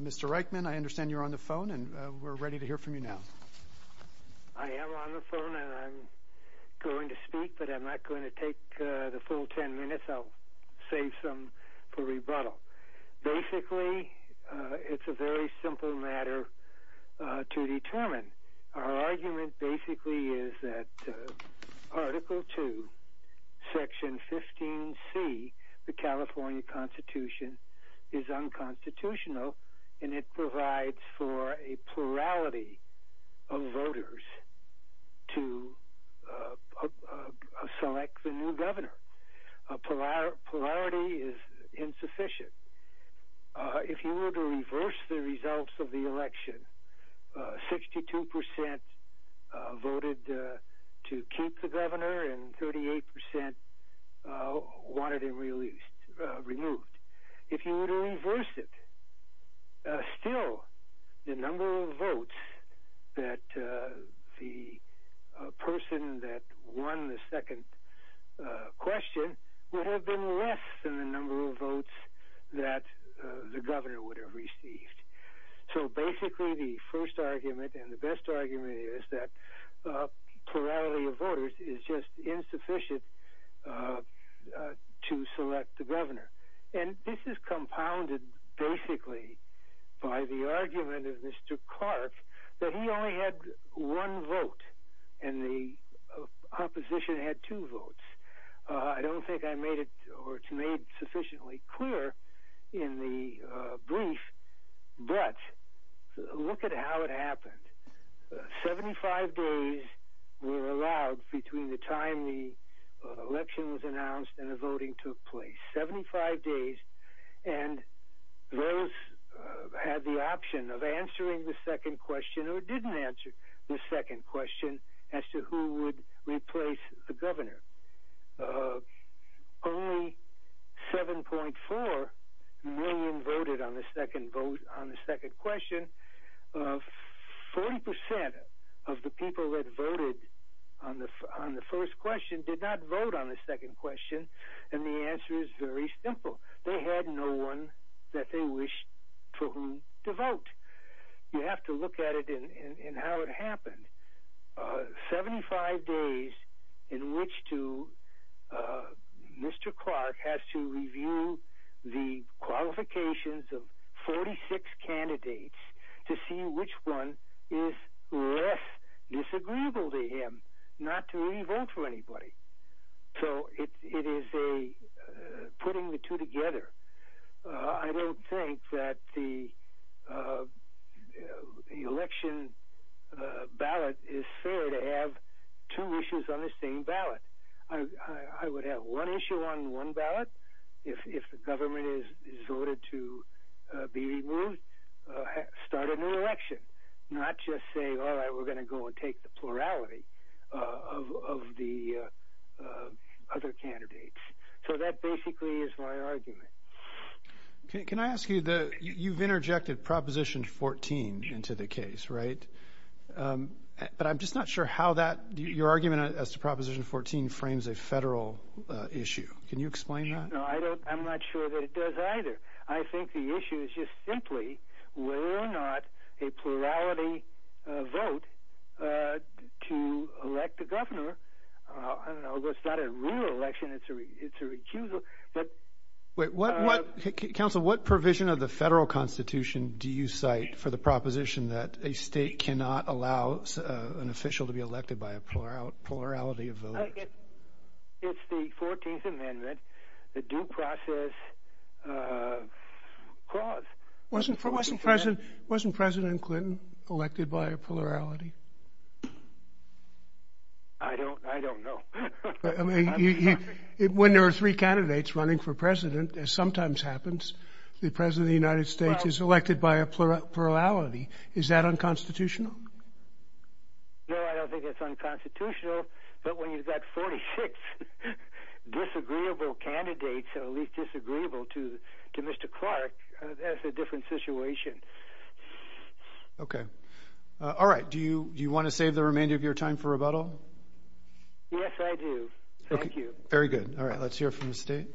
Mr. Reichman, I understand you're on the phone, and we're ready to hear from you now. I am on the phone, and I'm going to speak, but I'm not going to take the full ten minutes. I'll save some for rebuttal. Basically, it's a very simple matter to determine. Our argument basically is that Article II, Section 15C, the California Constitution, is unconstitutional, and it provides for a plurality of voters to select the new governor. Polarity is insufficient. If you were to reverse the results of the election, 62% voted to keep the governor and 38% wanted him removed. If you were to reverse it, still, the number of votes that the person that won the second question would have been less than the number of votes that the governor would have received. So basically, the first argument and the best argument is that plurality of voters is just insufficient to select the governor. And this is compounded basically by the argument of Mr. Clark that he only had one vote and the opposition had two votes. I don't think I made it or it's made sufficiently clear in the brief, but look at how it happened. Seventy-five days were allowed between the time the election was announced and the voting took place. Seventy-five days, and those had the option of answering the second question or didn't answer the second question as to who would replace the governor. Only 7.4 million voted on the second question. Forty percent of the people that voted on the first question did not vote on the second question, and the answer is very simple. They had no one that they wished for whom to vote. You have to look at it and how it happened. Seventy-five days in which Mr. Clark has to review the qualifications of 46 candidates to see which one is less disagreeable to him, not to re-vote for anybody. So it is putting the two together. I don't think that the election ballot is fair to have two issues on the same ballot. I would have one issue on one ballot. If the government is voted to be removed, start a new election, not just say, all right, we're going to go and take the plurality of the other candidates. So that basically is my argument. Can I ask you, you've interjected Proposition 14 into the case, right? But I'm just not sure how that, your argument as to Proposition 14 frames a federal issue. Can you explain that? No, I'm not sure that it does either. I think the issue is just simply whether or not a plurality vote to elect a governor, I don't know, it's not a real election, it's a recusal. Wait, what provision of the federal constitution do you cite for the proposition that a state cannot allow an official to be elected by a plurality of voters? It's the 14th Amendment, the due process clause. Wasn't President Clinton elected by a plurality? I don't know. When there are three candidates running for president, as sometimes happens, the President of the United States is elected by a plurality. Is that unconstitutional? No, I don't think it's unconstitutional. But when you've got 46 disagreeable candidates, at least disagreeable to Mr. Clark, that's a different situation. Okay. All right, do you want to save the remainder of your time for rebuttal? Yes, I do. Thank you. Very good. All right, let's hear from the state.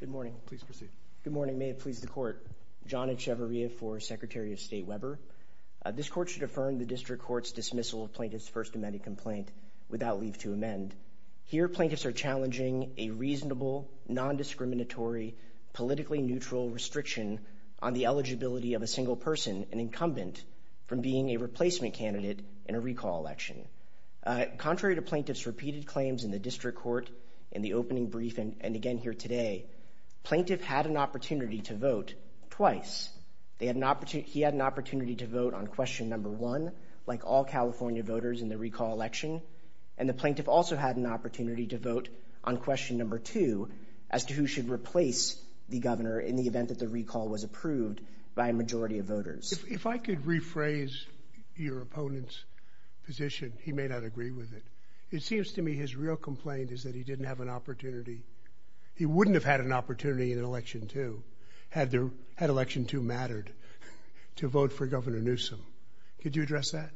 Good morning. Please proceed. Good morning. May it please the Court. John Echevarria for Secretary of State Weber. This court should affirm the district court's dismissal of plaintiff's first amended complaint without leave to amend. Here plaintiffs are challenging a reasonable, non-discriminatory, politically neutral restriction on the eligibility of a single person, an incumbent, from being a replacement candidate in a recall election. Contrary to plaintiffs' repeated claims in the district court in the opening briefing and again here today, plaintiff had an opportunity to vote twice. He had an opportunity to vote on question number one, like all California voters in the recall election, and the plaintiff also had an opportunity to vote on question number two, as to who should replace the governor in the event that the recall was approved by a majority of voters. If I could rephrase your opponent's position, he may not agree with it. It seems to me his real complaint is that he didn't have an opportunity. He wouldn't have had an opportunity in election two, had election two mattered, to vote for Governor Newsom. Could you address that?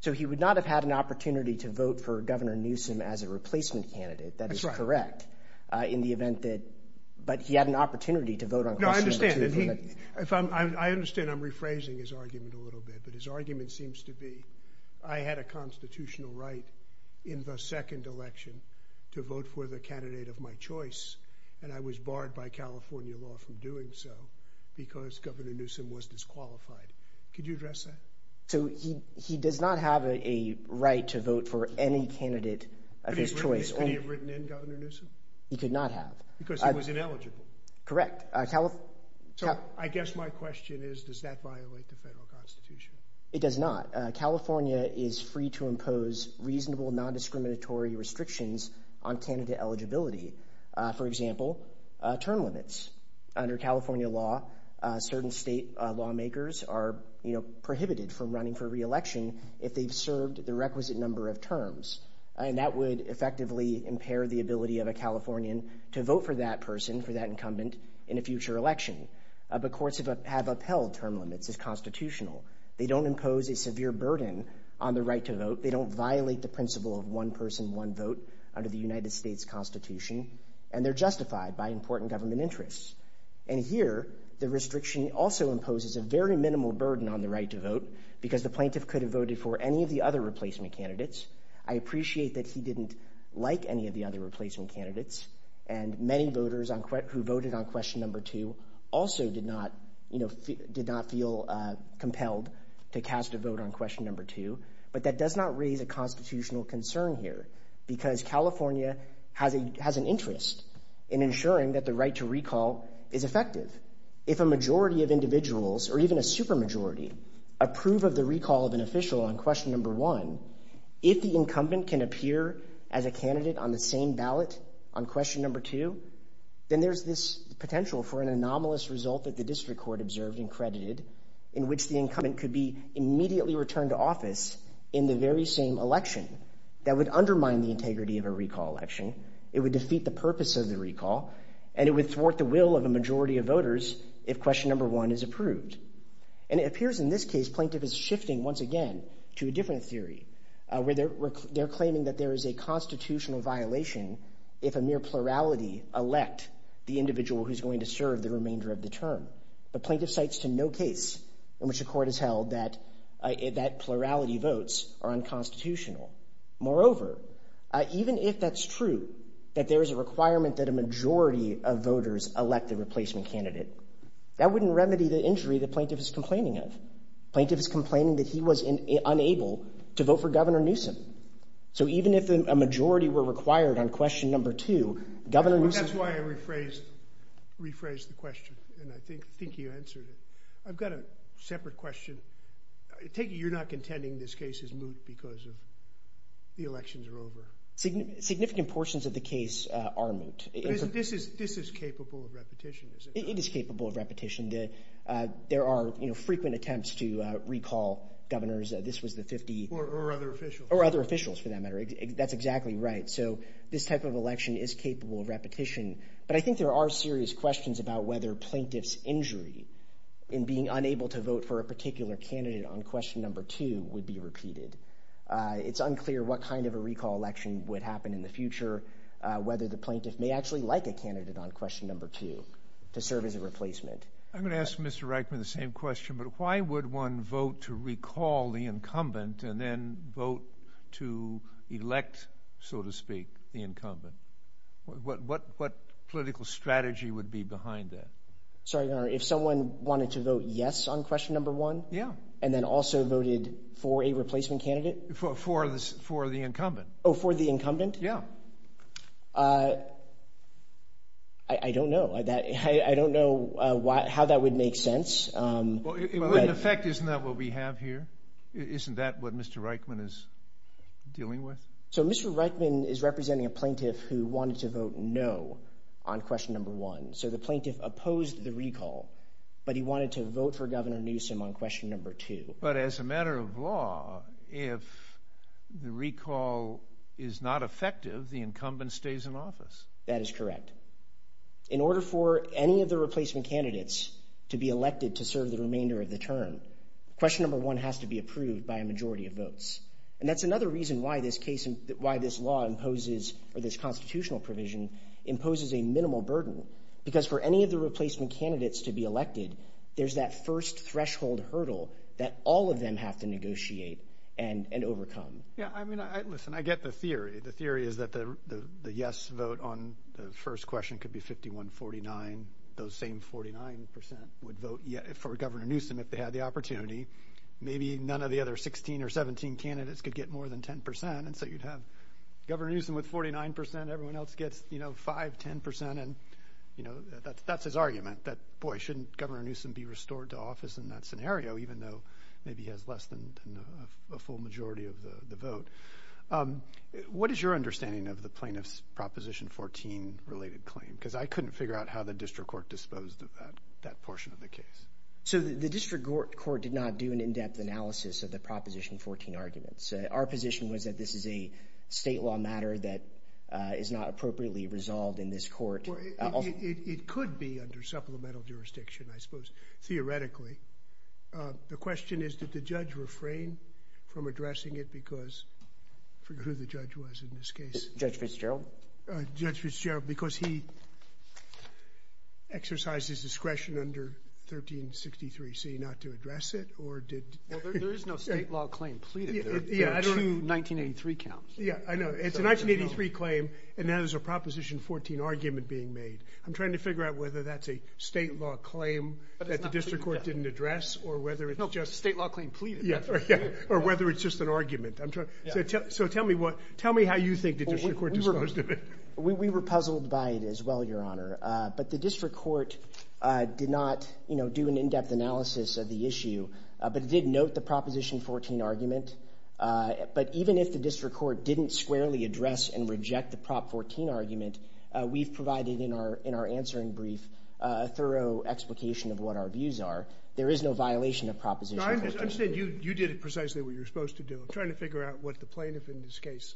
So he would not have had an opportunity to vote for Governor Newsom as a replacement candidate, that is correct, in the event that, but he had an opportunity to vote on question number two. No, I understand. I understand I'm rephrasing his argument a little bit, but his argument seems to be I had a constitutional right in the second election to vote for the candidate of my choice, and I was barred by California law from doing so because Governor Newsom was disqualified. Could you address that? So he does not have a right to vote for any candidate of his choice. Could he have written in Governor Newsom? He could not have. Because he was ineligible. Correct. So I guess my question is, does that violate the federal constitution? It does not. California is free to impose reasonable, non-discriminatory restrictions on candidate eligibility. For example, term limits. Under California law, certain state lawmakers are prohibited from running for re-election if they've served the requisite number of terms, and that would effectively impair the ability of a Californian to vote for that person, for that incumbent, in a future election. But courts have upheld term limits as constitutional. They don't impose a severe burden on the right to vote. They don't violate the principle of one person, one vote under the United States Constitution, and they're justified by important government interests. And here, the restriction also imposes a very minimal burden on the right to vote because the plaintiff could have voted for any of the other replacement candidates. I appreciate that he didn't like any of the other replacement candidates, and many voters who voted on question number two also did not feel compelled to cast a vote on question number two, but that does not raise a constitutional concern here because California has an interest in ensuring that the right to recall is effective. If a majority of individuals, or even a supermajority, approve of the recall of an official on question number one, if the incumbent can appear as a candidate on the same ballot on question number two, then there's this potential for an anomalous result that the district court observed and credited in which the incumbent could be immediately returned to office in the very same election that would undermine the integrity of a recall election, it would defeat the purpose of the recall, and it would thwart the will of a majority of voters if question number one is approved. And it appears in this case plaintiff is shifting once again to a different theory where they're claiming that there is a constitutional violation if a mere plurality elect the individual who's going to serve the remainder of the term, but plaintiff cites to no case in which the court has held that plurality votes are unconstitutional. Moreover, even if that's true, that there is a requirement that a majority of voters elect a replacement candidate, that wouldn't remedy the injury the plaintiff is complaining of. Plaintiff is complaining that he was unable to vote for Governor Newsom. So even if a majority were required on question number two, Governor Newsom- That's why I rephrased the question, and I think you answered it. I've got a separate question. Take it you're not contending this case is moot because the elections are over. Significant portions of the case are moot. This is capable of repetition, is it not? It is capable of repetition. There are frequent attempts to recall governors. This was the 50- Or other officials. Or other officials for that matter. That's exactly right. So this type of election is capable of repetition, but I think there are serious questions about whether plaintiff's injury in being unable to vote for a particular candidate on question number two would be repeated. It's unclear what kind of a recall election would happen in the future, whether the plaintiff may actually like a candidate on question number two to serve as a replacement. I'm going to ask Mr. Reichman the same question, but why would one vote to recall the incumbent and then vote to elect, so to speak, the incumbent? What political strategy would be behind that? Sorry, Governor. If someone wanted to vote yes on question number one- Yeah. And then also voted for a replacement candidate? For the incumbent. Oh, for the incumbent? Yeah. I don't know. I don't know how that would make sense. Well, in effect, isn't that what we have here? Isn't that what Mr. Reichman is dealing with? So Mr. Reichman is representing a plaintiff who wanted to vote no on question number one. So the plaintiff opposed the recall, but he wanted to vote for Governor Newsom on question number two. But as a matter of law, if the recall is not effective, the incumbent stays in office. That is correct. In order for any of the replacement candidates to be elected to serve the remainder of the term, question number one has to be approved by a majority of votes. And that's another reason why this law imposes or this constitutional provision imposes a minimal burden, because for any of the replacement candidates to be elected, there's that first threshold hurdle that all of them have to negotiate and overcome. Yeah, I mean, listen, I get the theory. The theory is that the yes vote on the first question could be 51-49. Those same 49 percent would vote for Governor Newsom if they had the opportunity. Maybe none of the other 16 or 17 candidates could get more than 10 percent, and so you'd have Governor Newsom with 49 percent, everyone else gets, you know, 5, 10 percent. And, you know, that's his argument that, boy, shouldn't Governor Newsom be restored to office in that scenario, even though maybe he has less than a full majority of the vote? What is your understanding of the plaintiff's Proposition 14-related claim? Because I couldn't figure out how the district court disposed of that portion of the case. So the district court did not do an in-depth analysis of the Proposition 14 arguments. Our position was that this is a state law matter that is not appropriately resolved in this court. Well, it could be under supplemental jurisdiction, I suppose, theoretically. The question is, did the judge refrain from addressing it because of who the judge was in this case? Judge Fitzgerald? Judge Fitzgerald, because he exercised his discretion under 1363C not to address it, or did he? There is no state law claim pleaded there to 1983 counsel. Yeah, I know. It's a 1983 claim, and now there's a Proposition 14 argument being made. I'm trying to figure out whether that's a state law claim that the district court didn't address or whether it's just an argument. So tell me how you think the district court disposed of it. We were puzzled by it as well, Your Honor. But the district court did not, you know, do an in-depth analysis of the issue, but it did note the Proposition 14 argument. But even if the district court didn't squarely address and reject the Prop 14 argument, we've provided in our answering brief a thorough explication of what our views are. There is no violation of Proposition 14. I understand you did precisely what you were supposed to do. I'm trying to figure out what the plaintiff in this case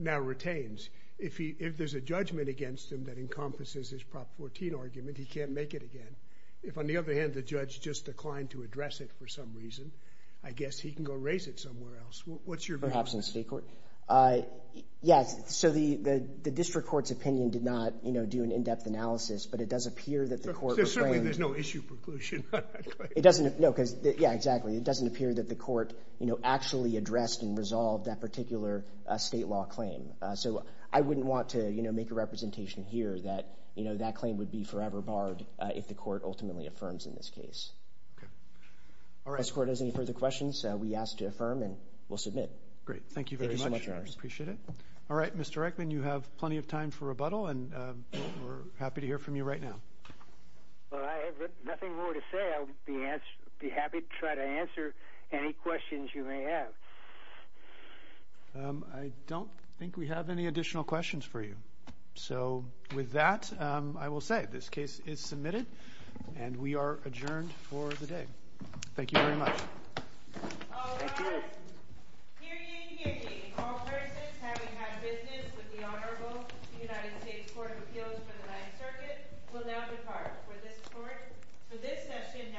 now retains. If there's a judgment against him that encompasses his Prop 14 argument, he can't make it again. If, on the other hand, the judge just declined to address it for some reason, I guess he can go raise it somewhere else. What's your view on this? Perhaps in state court? Yes. So the district court's opinion did not, you know, do an in-depth analysis, but it does appear that the court was framed. So certainly there's no issue preclusion on that claim. It doesn't. No, because, yeah, exactly. It doesn't appear that the court, you know, actually addressed and resolved that particular state law claim. So I wouldn't want to, you know, make a representation here that, you know, that claim would be forever barred if the court ultimately affirms in this case. Okay. All right. If this court has any further questions, we ask to affirm and we'll submit. Great. Thank you very much. Thank you so much, Your Honors. Appreciate it. All right. Mr. Reichman, you have plenty of time for rebuttal, and we're happy to hear from you right now. Well, I have nothing more to say. I'll be happy to try to answer any questions you may have. I don't think we have any additional questions for you. So with that, I will say this case is submitted, and we are adjourned for the day. Thank you very much. Thank you. All rise. Hear ye, hear ye. All persons having had business with the Honorable United States Court of Appeals for the Ninth Circuit will now depart. For this session, now stands adjourned. Thank you.